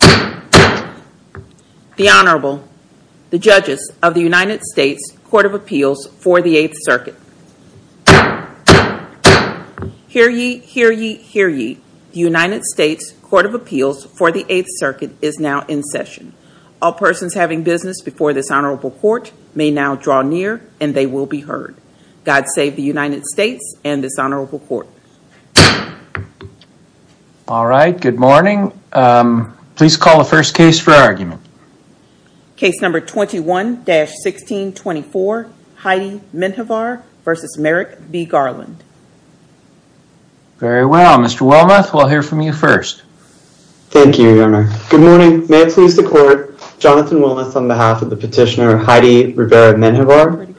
The Honorable, the Judges of the United States Court of Appeals for the Eighth Circuit. Hear ye, hear ye, hear ye, the United States Court of Appeals for the Eighth Circuit is now in session. All persons having business before this Honorable Court may now draw near and they will be heard. God save the United States and this Honorable Court. All right, good morning. Please call the first case for argument. Case number 21-1624, Heidy Menjivar v. Merrick B. Garland. Very well, Mr. Wilmoth, we'll hear from you first. Thank you, Your Honor. Good morning. May it please the Court, Jonathan Wilmoth on behalf of the petitioner, Heidy Rivera Menjivar,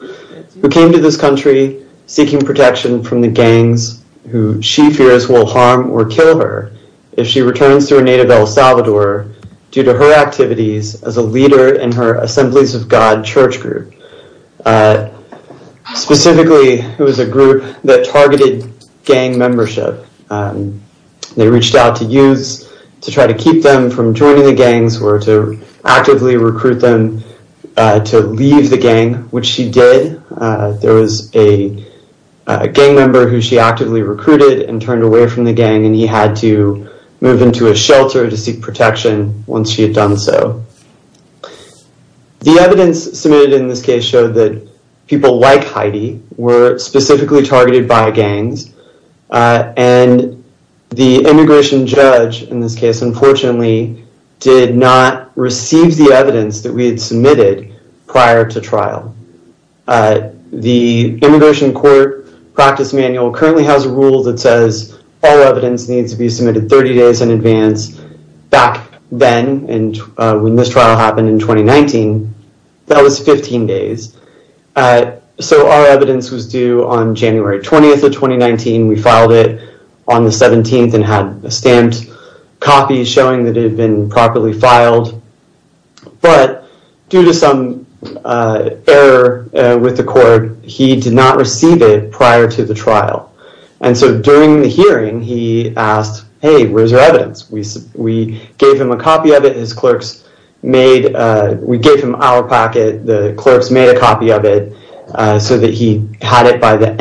who came to this country seeking protection from the gangs who she fears will harm or kill her if she returns to her native El Salvador due to her activities as a leader in her Assemblies of God church group. Specifically, it was a group that targeted gang membership. They reached out to youths to try to keep them from joining the gangs or to actively recruit them to leave the gang, which she did. There was a gang member who she actively recruited and turned away from the gang and he had to move into a shelter to seek protection once she had done so. The evidence submitted in this case showed that people like Heidi were specifically targeted by gangs and the immigration judge in this case, unfortunately, did not receive the evidence that we had submitted prior to trial. The immigration court practice manual currently has a rule that says all evidence needs to be submitted 30 days in advance. Back then, and when this trial happened in 2019, that was 15 days. So, our evidence was due on January 20th of 2019. We filed it on the 17th and had a stamped copy showing that it had been properly filed, but due to some error with the court, he did not receive it prior to the trial. During the hearing, he asked, hey, where's your evidence? We gave him a copy of it. We gave him our packet. The clerks made a copy of it so that he had it by the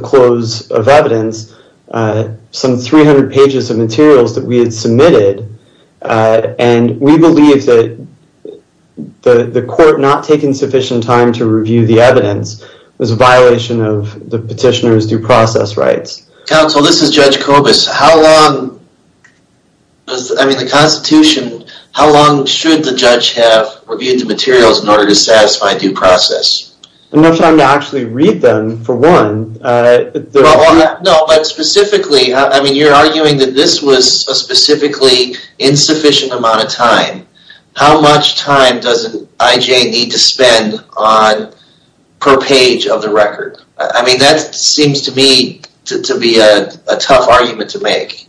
close of evidence, some 300 pages of materials that we had submitted. We believe that the court not taking sufficient time to review the evidence was a violation of the petitioner's due process rights. Counsel, this is Judge Kobus. How long should the judge have reviewed the materials in order to satisfy due process? Enough time to actually read them, for one. No, but specifically, you're arguing that this was a specifically insufficient amount of time. How much time does an IJ need to spend on per page of the record? That seems to me to be a tough argument to make.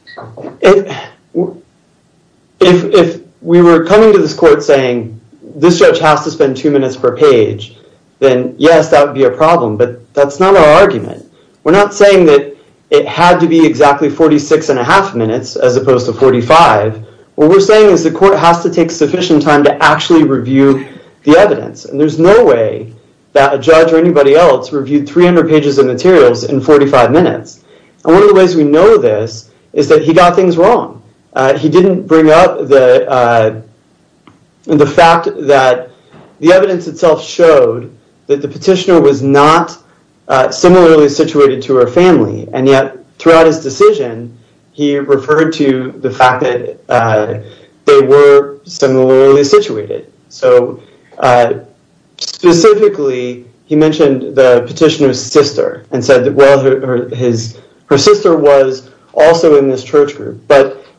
If we were coming to this court saying, this judge has to spend two minutes per page, then yes, that would be a problem, but that's not our argument. We're not saying that it had to be exactly 46 and a half minutes as opposed to 45. What we're saying is the court has to take sufficient time to actually review the evidence. There's no way that a judge or a petitioner could be wrong. The reason why we're saying this is that he got things wrong. He didn't bring up the fact that the evidence itself showed that the petitioner was not similarly situated to her family, and yet, throughout his decision, he referred to the fact that they were similarly situated. Specifically, he mentioned the petitioner's sister and said that her sister was also in this church group.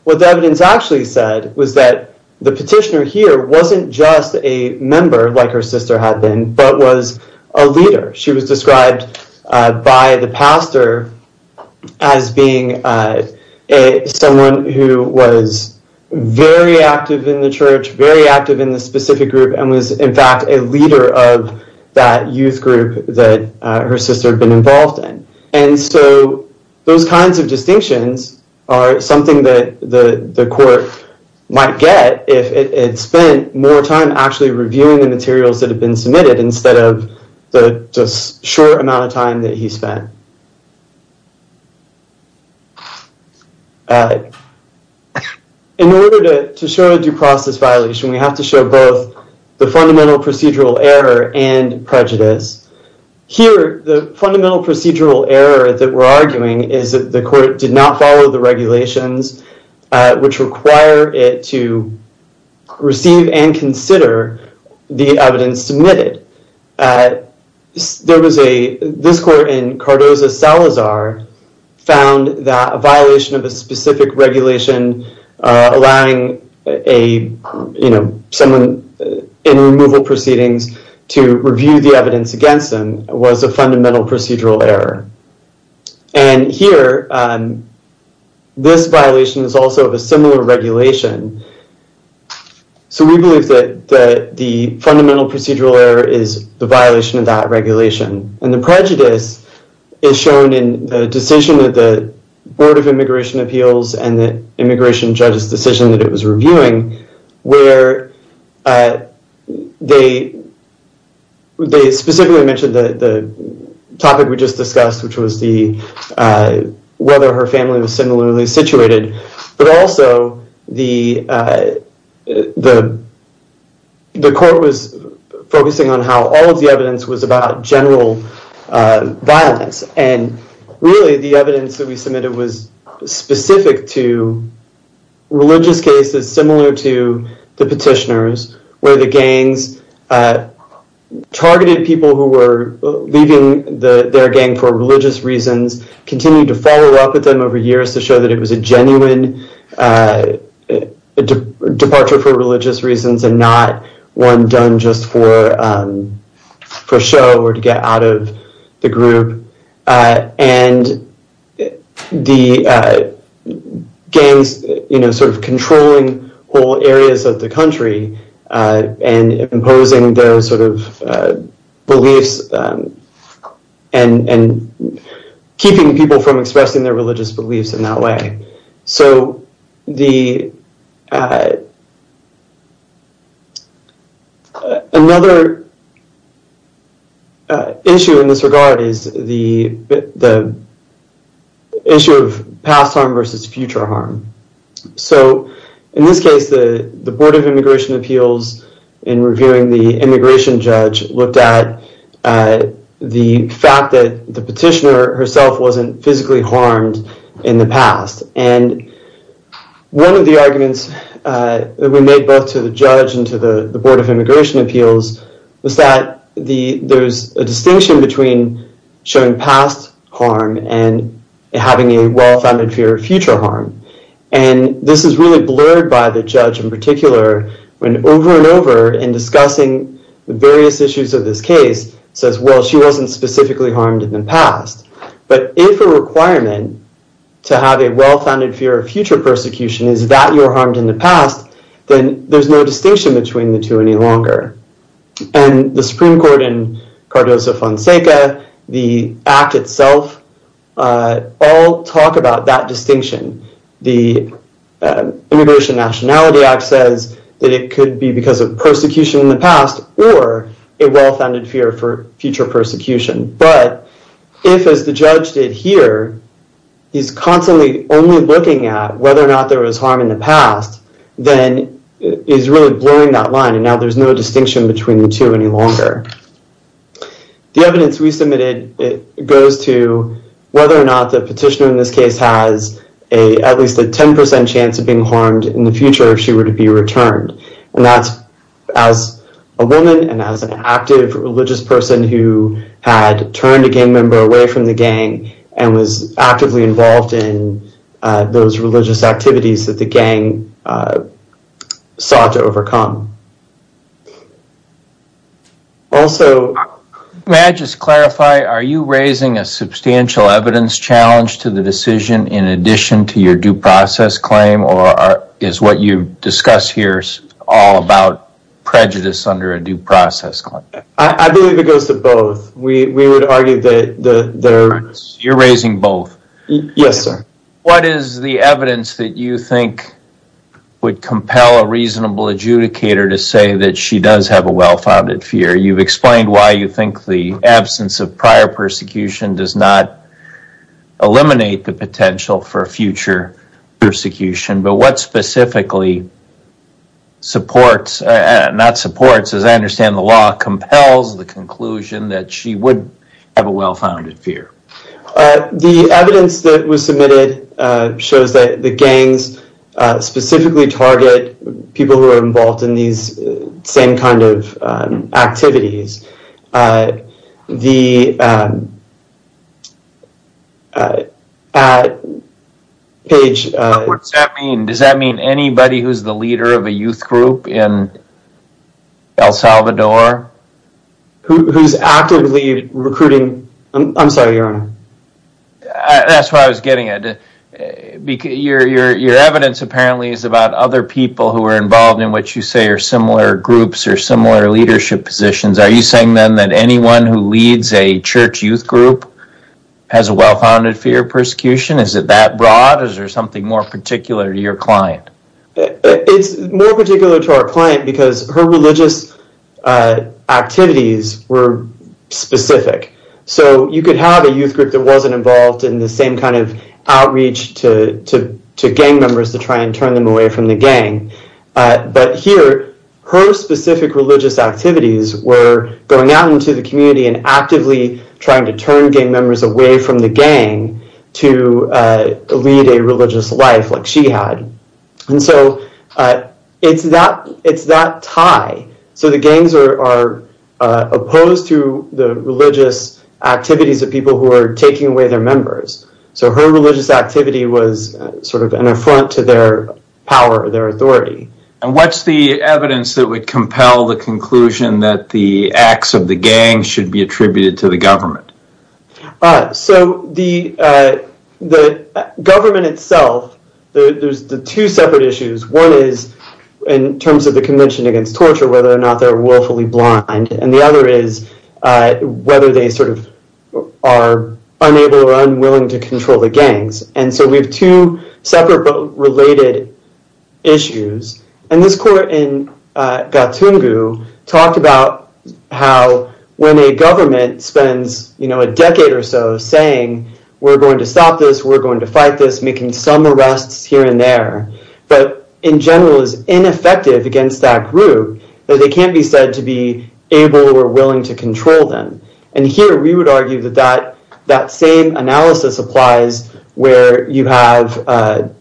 What the evidence actually said was that the petitioner here wasn't just a member like her sister had been, but was a leader. She was described by the pastor as being someone who was very active in the church, very active in the specific group, and was, in fact, a leader of that youth group that her sister had been involved in. Those kinds of distinctions are something that the court might get if it spent more time actually reviewing the materials that have been submitted instead of the just short amount of time that he spent. In order to show due process violation, we have to show both the fundamental procedural error and prejudice. Here, the fundamental procedural error that we're arguing is that the court did not follow the regulations which require it to receive and consider the evidence submitted. This court in Cardozo-Salazar found that a violation of a specific regulation allowing someone in removal proceedings to review the evidence against them was a fundamental procedural error. Here, this violation is also of a similar regulation. We believe that the fundamental procedural error is the violation of that regulation. The prejudice is shown in the decision of the Board of Immigration Appeals and the immigration judge's decision that it was reviewing, where they specifically mentioned the topic we just discussed, which was whether her family was similarly situated. Also, the court was focusing on how all of the evidence was about general violence. Really, the evidence that we submitted was specific to religious cases similar to the petitioners, where the gangs targeted people who were leaving their gang for religious reasons, continued to follow up with them over years to show that it was a genuine departure for religious reasons and not one done just for show or to get out of the group. The gangs controlling whole their religious beliefs in that way. Another issue in this regard is the issue of past harm versus future harm. In this case, the Board of Immigration Appeals, in reviewing the immigration judge, looked at the fact that the petitioner herself wasn't physically harmed in the past. One of the arguments that we made both to the judge and to the Board of Immigration Appeals was that there's a distinction between showing past harm and having a well-founded fear of future harm. This is really blurred by the judge, in particular, when over and over and discussing the various issues of this case, says, well, she wasn't specifically harmed in the past. But if a requirement to have a well-founded fear of future persecution is that you're harmed in the past, then there's no distinction between the two any longer. The Supreme Court and Cardoso-Fonseca, the Act itself, all talk about that distinction. The Immigration Nationality Act says that it is a well-founded fear for future persecution. But if, as the judge did here, he's constantly only looking at whether or not there was harm in the past, then it's really blurring that line, and now there's no distinction between the two any longer. The evidence we submitted goes to whether or not the petitioner in this case has at least a 10% chance of being harmed in the future if she were to be returned. And that's as a woman and as an active religious person who had turned a gang member away from the gang and was actively involved in those religious activities that the gang sought to overcome. Also, may I just clarify, are you raising a substantial evidence challenge to the decision in addition to your due process claim, or is what you discuss here all about prejudice under a due process claim? I believe it goes to both. We would argue that... You're raising both. Yes, sir. What is the evidence that you think would compel a reasonable adjudicator to say that she does have a well-founded fear? You've explained why you think the absence of the potential for future persecution, but what specifically supports, not supports, as I understand the law, compels the conclusion that she would have a well-founded fear? The evidence that was submitted shows that the gangs specifically target people who are involved in these same kind of activities. Does that mean anybody who's the leader of a youth group in El Salvador? Who's actively recruiting... I'm sorry, Your Honor. That's why I was getting it. Your similar groups or similar leadership positions, are you saying then that anyone who leads a church youth group has a well-founded fear of persecution? Is it that broad? Is there something more particular to your client? It's more particular to our client because her religious activities were specific, so you could have a youth group that wasn't involved in the same kind of outreach to gang members to try and turn them away from the gang. But here, her specific religious activities were going out into the community and actively trying to turn gang members away from the gang to lead a religious life like she had. And so it's that tie. So the gangs are opposed to the religious activities of people who are taking away their members. So her religious activity was sort of an affront to their power, their authority. And what's the evidence that would compel the conclusion that the acts of the gang should be attributed to the government? So the government itself, there's two separate issues. One is in terms of the Convention Against Torture, whether or not they're willfully blind. And the other is whether they sort of are unable or unwilling to control. These are both related issues. And this court in Gatungu talked about how when a government spends, you know, a decade or so saying, we're going to stop this, we're going to fight this, making some arrests here and there, that in general is ineffective against that group, that they can't be said to be able or willing to control them. And here, we would argue that same analysis applies where you have a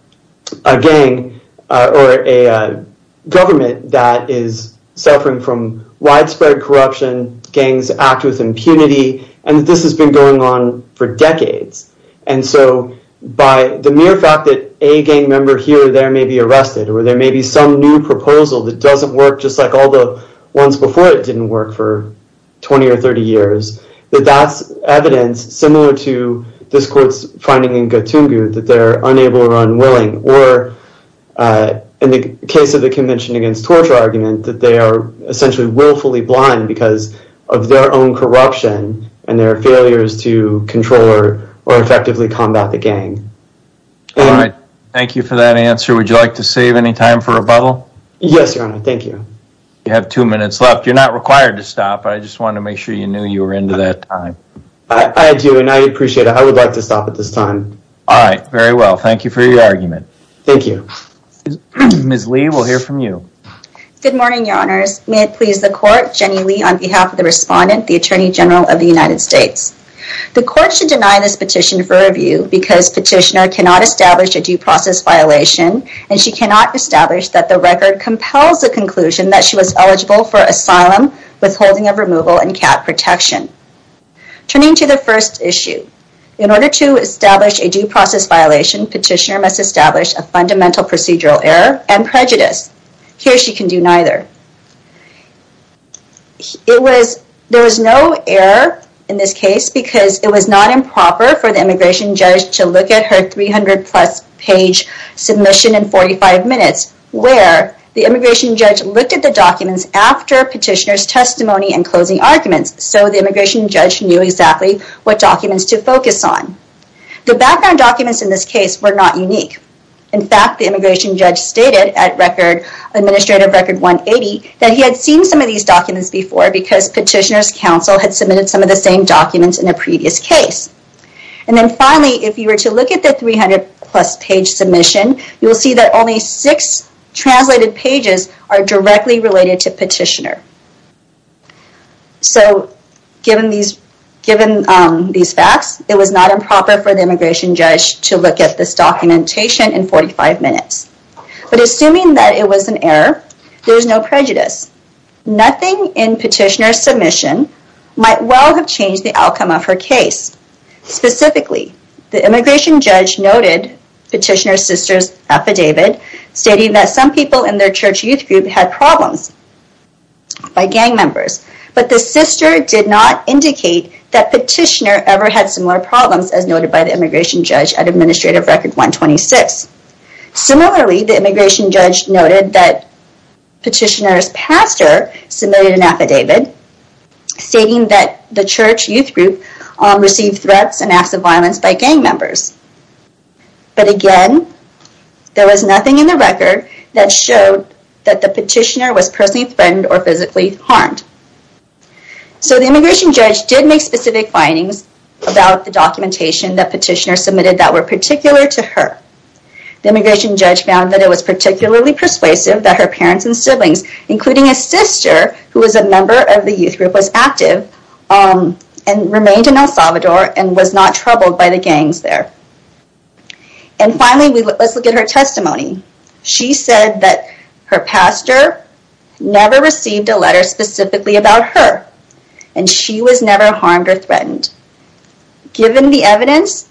gang or a government that is suffering from widespread corruption, gangs act with impunity, and this has been going on for decades. And so by the mere fact that a gang member here or there may be arrested, or there may be some new proposal that doesn't work just like all the ones before it didn't work for 20 or 30 years, that that's evidence similar to this court's finding in Gatungu that they're unable or unwilling. Or in the case of the Convention Against Torture argument, that they are essentially willfully blind because of their own corruption and their failures to control or effectively combat the gang. All right. Thank you for that answer. Would you like to save any time for rebuttal? Yes, your honor. Thank you. You have two minutes left. You're not required to stop. I just wanted to make sure you knew you were into that time. I do and I appreciate it. I would like to stop at this time. All right. Very well. Thank you for your argument. Thank you. Ms. Lee, we'll hear from you. Good morning, your honors. May it please the court, Jenny Lee on behalf of the respondent, the Attorney General of the United States. The court should deny this petition for review because petitioner cannot establish a due process violation and she cannot establish that the record compels the conclusion that she was eligible for asylum withholding of removal and cap protection. Turning to the first issue, in order to establish a due process violation, petitioner must establish a fundamental procedural error and prejudice. Here she can do neither. It was, there was no error in this case because it was not improper for the immigration judge to look at her 300 plus page submission in 45 minutes where the immigration judge looked at the documents after petitioner's testimony and closing arguments. So the immigration judge knew exactly what documents to focus on. The background documents in this case were not unique. In fact, the immigration judge stated at record, administrative record 180, that he had seen some of these documents before because petitioner's counsel had submitted some of the same documents in a previous case. And then finally, if you were to look at the 300 plus page submission, you will see that only six translated pages are directly related to petitioner. So given these, given these facts, it was not improper for the immigration judge to look at this documentation in 45 minutes. But assuming that it was an error, there's no prejudice. Nothing in petitioner's submission might well have changed the outcome of her case. Specifically, the immigration judge noted petitioner's sister's affidavit stating that some people in their church youth group had problems by gang members, but the sister did not indicate that petitioner ever had similar problems as noted by the immigration judge at submitted an affidavit stating that the church youth group received threats and acts of violence by gang members. But again, there was nothing in the record that showed that the petitioner was personally threatened or physically harmed. So the immigration judge did make specific findings about the documentation that petitioner submitted that were particular to her. The immigration judge found that it was particularly persuasive that her parents and sister, who was a member of the youth group, was active and remained in El Salvador and was not troubled by the gangs there. And finally, let's look at her testimony. She said that her pastor never received a letter specifically about her and she was never harmed or threatened. Given the evidence,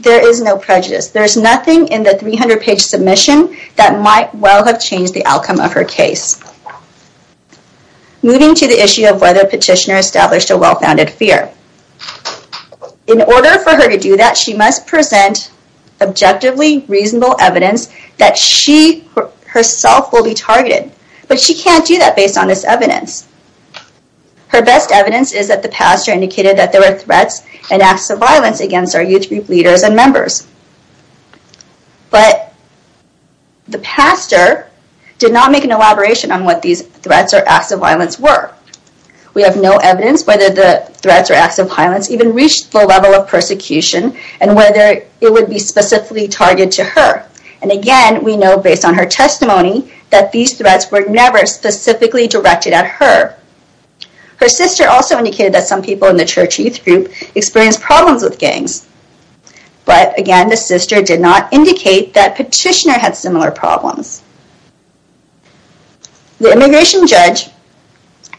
there is no prejudice. There's nothing in the 300-page submission that might well have changed the outcome of her case. Moving to the issue of whether petitioner established a well-founded fear. In order for her to do that, she must present objectively reasonable evidence that she herself will be targeted, but she can't do that based on this evidence. Her best evidence is that the pastor indicated that there were threats and acts of violence against our youth group leaders and members, but the pastor did not make an elaboration on what these threats or acts of violence were. We have no evidence whether the threats or acts of violence even reached the level of persecution and whether it would be specifically targeted to her. And again, we know based on her testimony that these threats were never specifically directed at her. Her sister also indicated that some people in the church youth group experienced problems with these things. But again, the sister did not indicate that petitioner had similar problems. The immigration judge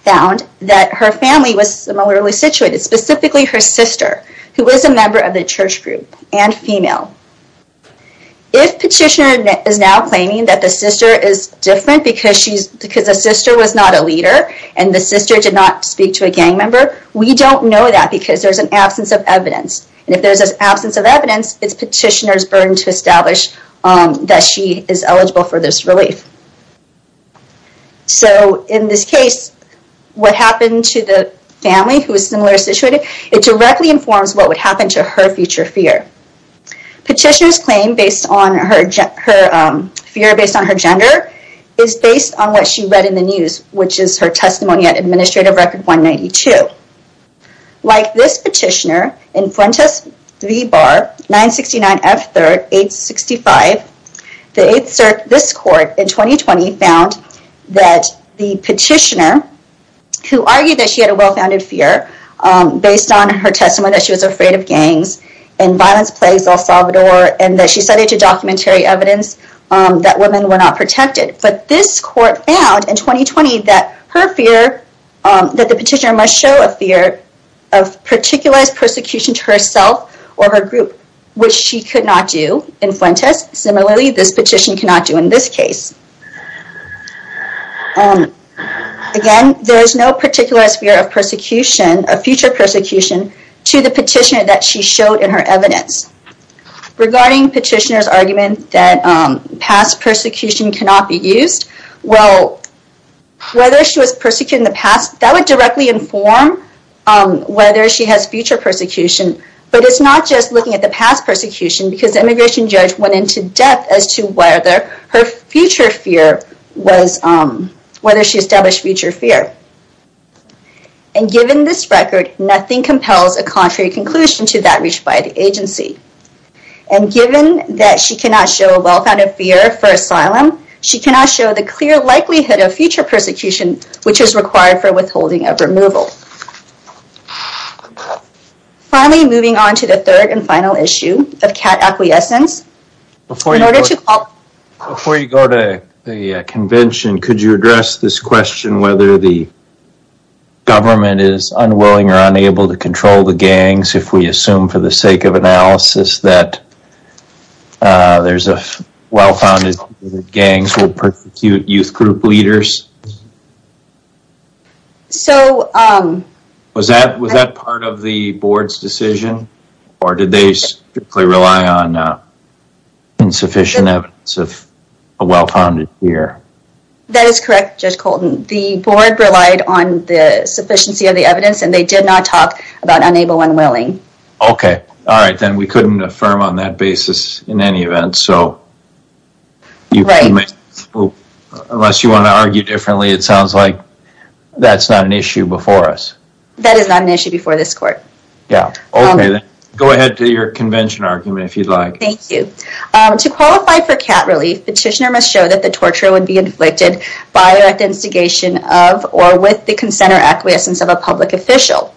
found that her family was similarly situated, specifically her sister, who was a member of the church group and female. If petitioner is now claiming that the sister is different because a sister was not a leader and the sister did not speak to a gang member, we don't know that because there's an absence of evidence. And if there's an absence of evidence, it's petitioner's burden to establish that she is eligible for this relief. So in this case, what happened to the family who is similar situated, it directly informs what would happen to her future fear. Petitioner's claim based on her fear based on her gender is based on what she read in the news, which is her testimony at Administrative Record 192. Like this petitioner in Fuentes V. Barr 969 F. 3rd 865, this court in 2020 found that the petitioner who argued that she had a well-founded fear based on her testimony that she was afraid of gangs and violence plagues El Salvador, and that she cited to documentary evidence that women were not protected. But this court found in 2020 that her fear that the petitioner show a fear of particularized persecution to herself or her group, which she could not do in Fuentes. Similarly, this petition cannot do in this case. Again, there is no particular sphere of future persecution to the petitioner that she showed in her evidence. Regarding petitioner's argument that past persecution cannot be used, well, whether she was persecuted in the past, that would directly inform whether she has future persecution. But it's not just looking at the past persecution, because the immigration judge went into depth as to whether her future fear was, whether she established future fear. And given this record, nothing compels a contrary conclusion to that reached by the agency. And given that she cannot show a well-founded fear for asylum, she cannot show the clear likelihood of future persecution, which is required for withholding of removal. Finally, moving on to the third and final issue of cat acquiescence. Before you go to the convention, could you address this question, whether the government is unwilling or unable to control the gangs, if we assume for the sake of analysis that there's a well-founded fear that gangs will persecute youth group leaders? So was that part of the board's decision, or did they strictly rely on insufficient evidence of a well-founded fear? That is correct, Judge Colton. The board relied on the sufficiency of the evidence, and they did not talk about unable and unwilling. Okay, all right, then we couldn't affirm on that basis in any event, so unless you want to argue differently, it sounds like that's not an issue before us. That is not an issue before this court. Yeah, okay, then go ahead to your convention argument if you'd like. Thank you. To qualify for cat relief, petitioner must show that the torture would be inflicted by or at the instigation of or with the consent or acquiescence of a public official.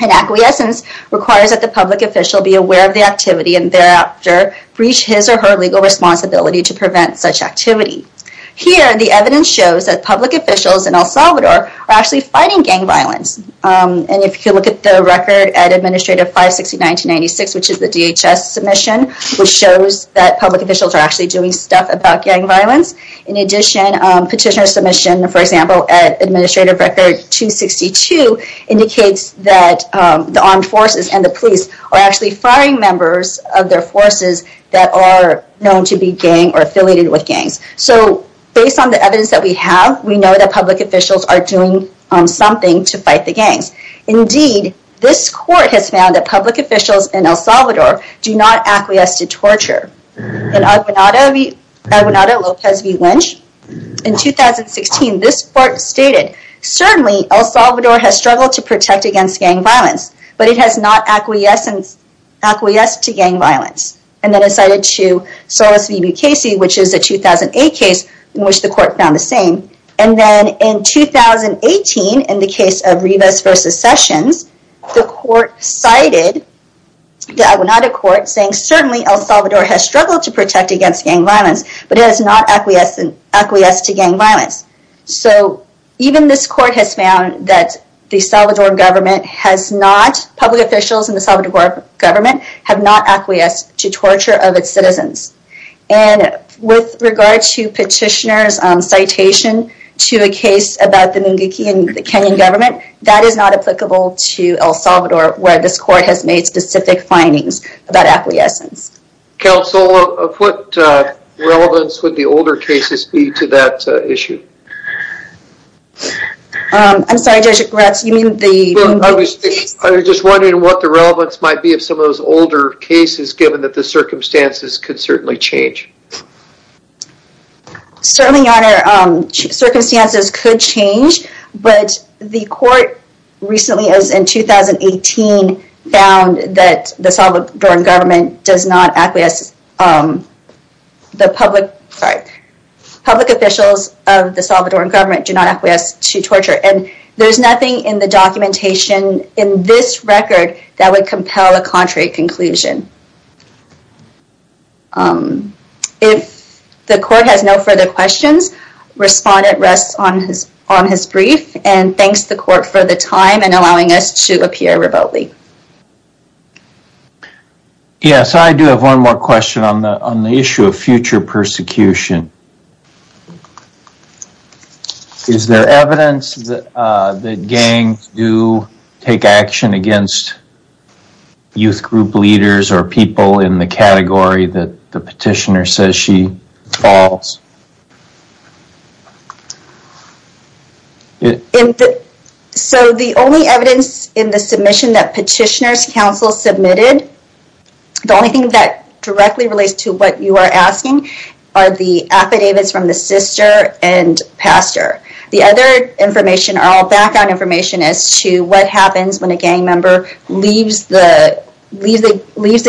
An acquiescence requires that the public official be aware of the activity and thereafter reach his or her legal responsibility to prevent such activity. Here, the evidence shows that public officials in El Salvador are actually fighting gang violence, and if you look at the record at Administrative 560-1996, which is the DHS submission, which shows that public officials are actually doing stuff about gang violence. In addition, petitioner submission, for example, at Administrative Record 262 indicates that the armed forces and the police are actually firing members of their forces that are known to be gang or affiliated with gangs. So based on the evidence that we have, we know that public officials are doing something to fight the gangs. Indeed, this court has found that public officials in El Salvador do not acquiesce to torture. In Aguinaldo-Lopez v. Lynch, in 2016, this court stated, certainly El Salvador has struggled to protect against gang violence, but it has not acquiesced to gang violence. And then it cited to Solis v. Bukesi, which is a 2008 case in which the court found the same. And then in 2018, in the case of Rivas v. Sessions, the court cited the Aguinaldo Court saying, certainly El Salvador has struggled to protect against gang violence, but it has not acquiesced to gang violence. So even this court has found that the Salvador government has not, public officials in the Salvador government, have not acquiesced to torture of its citizens. And with regard to petitioner's citation to a case about the Munguqui and the Kenyan government, that is not applicable to El Salvador, where this court has made specific findings about acquiescence. Counsel, of what relevance would the older cases be to that issue? I'm sorry, Judge Gretz, you mean the Munguqui case? I was just wondering what the relevance might be of some of those older cases, given that the circumstances could certainly change. Certainly, Your Honor, circumstances could change, but the court recently, as in 2018, found that the Salvadoran government does not acquiesce, the public, sorry, public officials of the Salvadoran government do not acquiesce to torture. And there's nothing in the documentation in this record that would compel a contrary conclusion. If the court has no further questions, respondent rests on his brief, and thanks the court for the time and allowing us to appear remotely. Yes, I do have one more question on the issue of future persecution. Is there evidence that the gangs do take action against youth group leaders or people in the category that the petitioner says she falls? So, the only evidence in the submission that petitioners counsel submitted, the only thing that directly relates to what you are asking, are the affidavits from the sister and pastor. The other information are all background information as to what happens when a gang member leaves the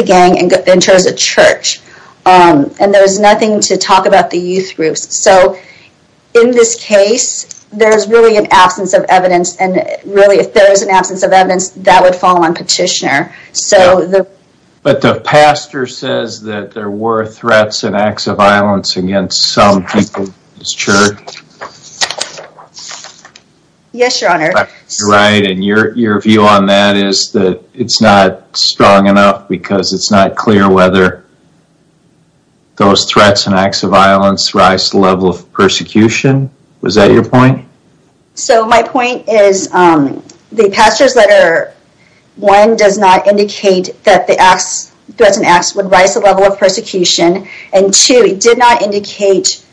gang and enters a church. And there's nothing to talk about the youth groups. So, in this case, there's really an absence of evidence, and really, if there is an absence of evidence, that would fall on petitioner. So, but the pastor says that there were threats and acts of violence against some people in his church. Yes, your honor. Right, and your view on that is that it's not strong enough because it's not clear whether those threats and acts of violence rise to the level of persecution. Was that your point? So, my point is the pastor's letter, one, does not indicate that the threats and acts would rise to the level of persecution, and two, it did not indicate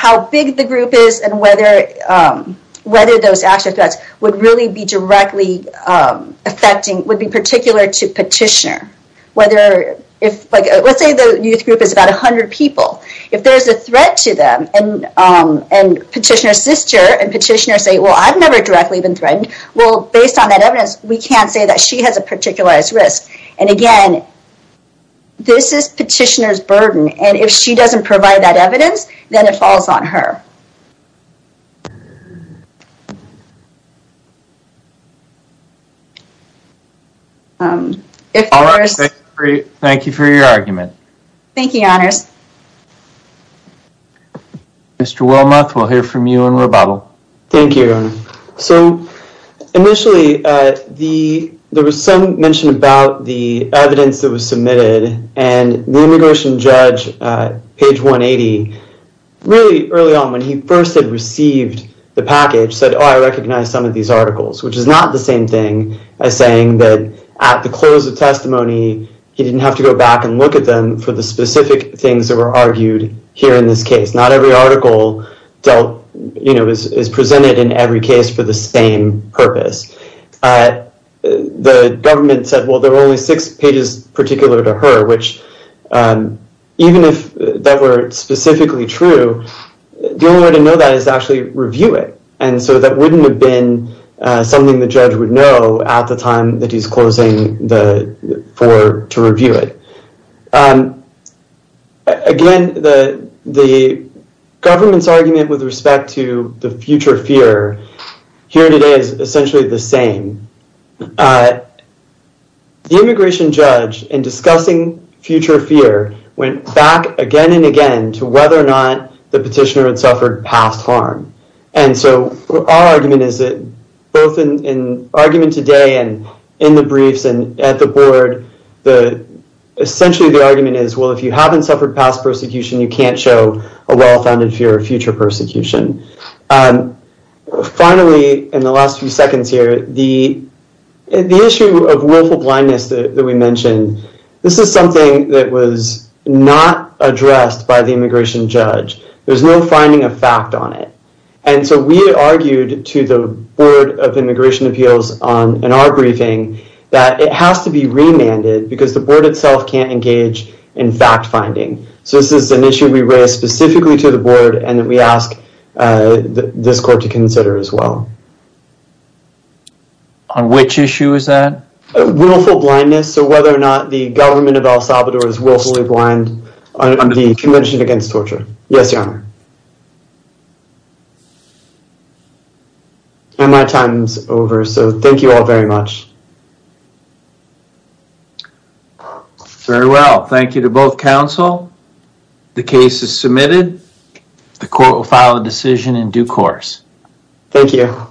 how big the group is and whether those acts or threats would really be directly affecting, would be particular to petitioner. Let's say the youth group is about 100 people. If there's a threat to them, and petitioner's sister and petitioner say, well, I've never directly been threatened. Well, based on that evidence, we can't say that she has a particular risk. And again, this is petitioner's burden, and if she doesn't provide that evidence, then it falls on her. All right, thank you for your argument. Thank you, your honors. Mr. Wilmoth, we'll hear from you in rebuttal. Thank you, your honor. So, initially, there was some mention about the evidence that was submitted, and the immigration judge, page 180, really early on, when he first had received the package, said, oh, I recognize some of these articles, which is not the same thing as saying that at the close of testimony, he didn't have to go back and look at them for the specific things that were argued here in this case. Not every article is presented in every case for the same purpose. The government said, well, there were only six articles. The only way to know that is to actually review it, and so that wouldn't have been something the judge would know at the time that he's closing to review it. Again, the government's argument with respect to the future fear here today is essentially the same. The immigration judge, in discussing future fear, went back again and again to whether or not the petitioner had suffered past harm, and so our argument is that both in argument today and in the briefs and at the board, essentially, the argument is, well, if you haven't suffered past persecution, you can't show a well-founded fear of future persecution. Finally, in the last few seconds here, the issue of willful blindness that we mentioned, this is something that was not addressed by the immigration judge. There's no finding of fact on it, and so we argued to the Board of Immigration Appeals in our briefing that it has to be remanded because the board itself can't engage in fact-finding, so this is an issue we raise specifically to the board and that we ask this court to consider as well. On which issue is that? Willful blindness, so whether or not the government of El Salvador is willfully blind on the Convention Against Torture. Yes, Your Honor. And my time's over, so thank you all very much. Very well. Thank you to both counsel. The case is submitted. The court will file a decision in due course. Thank you.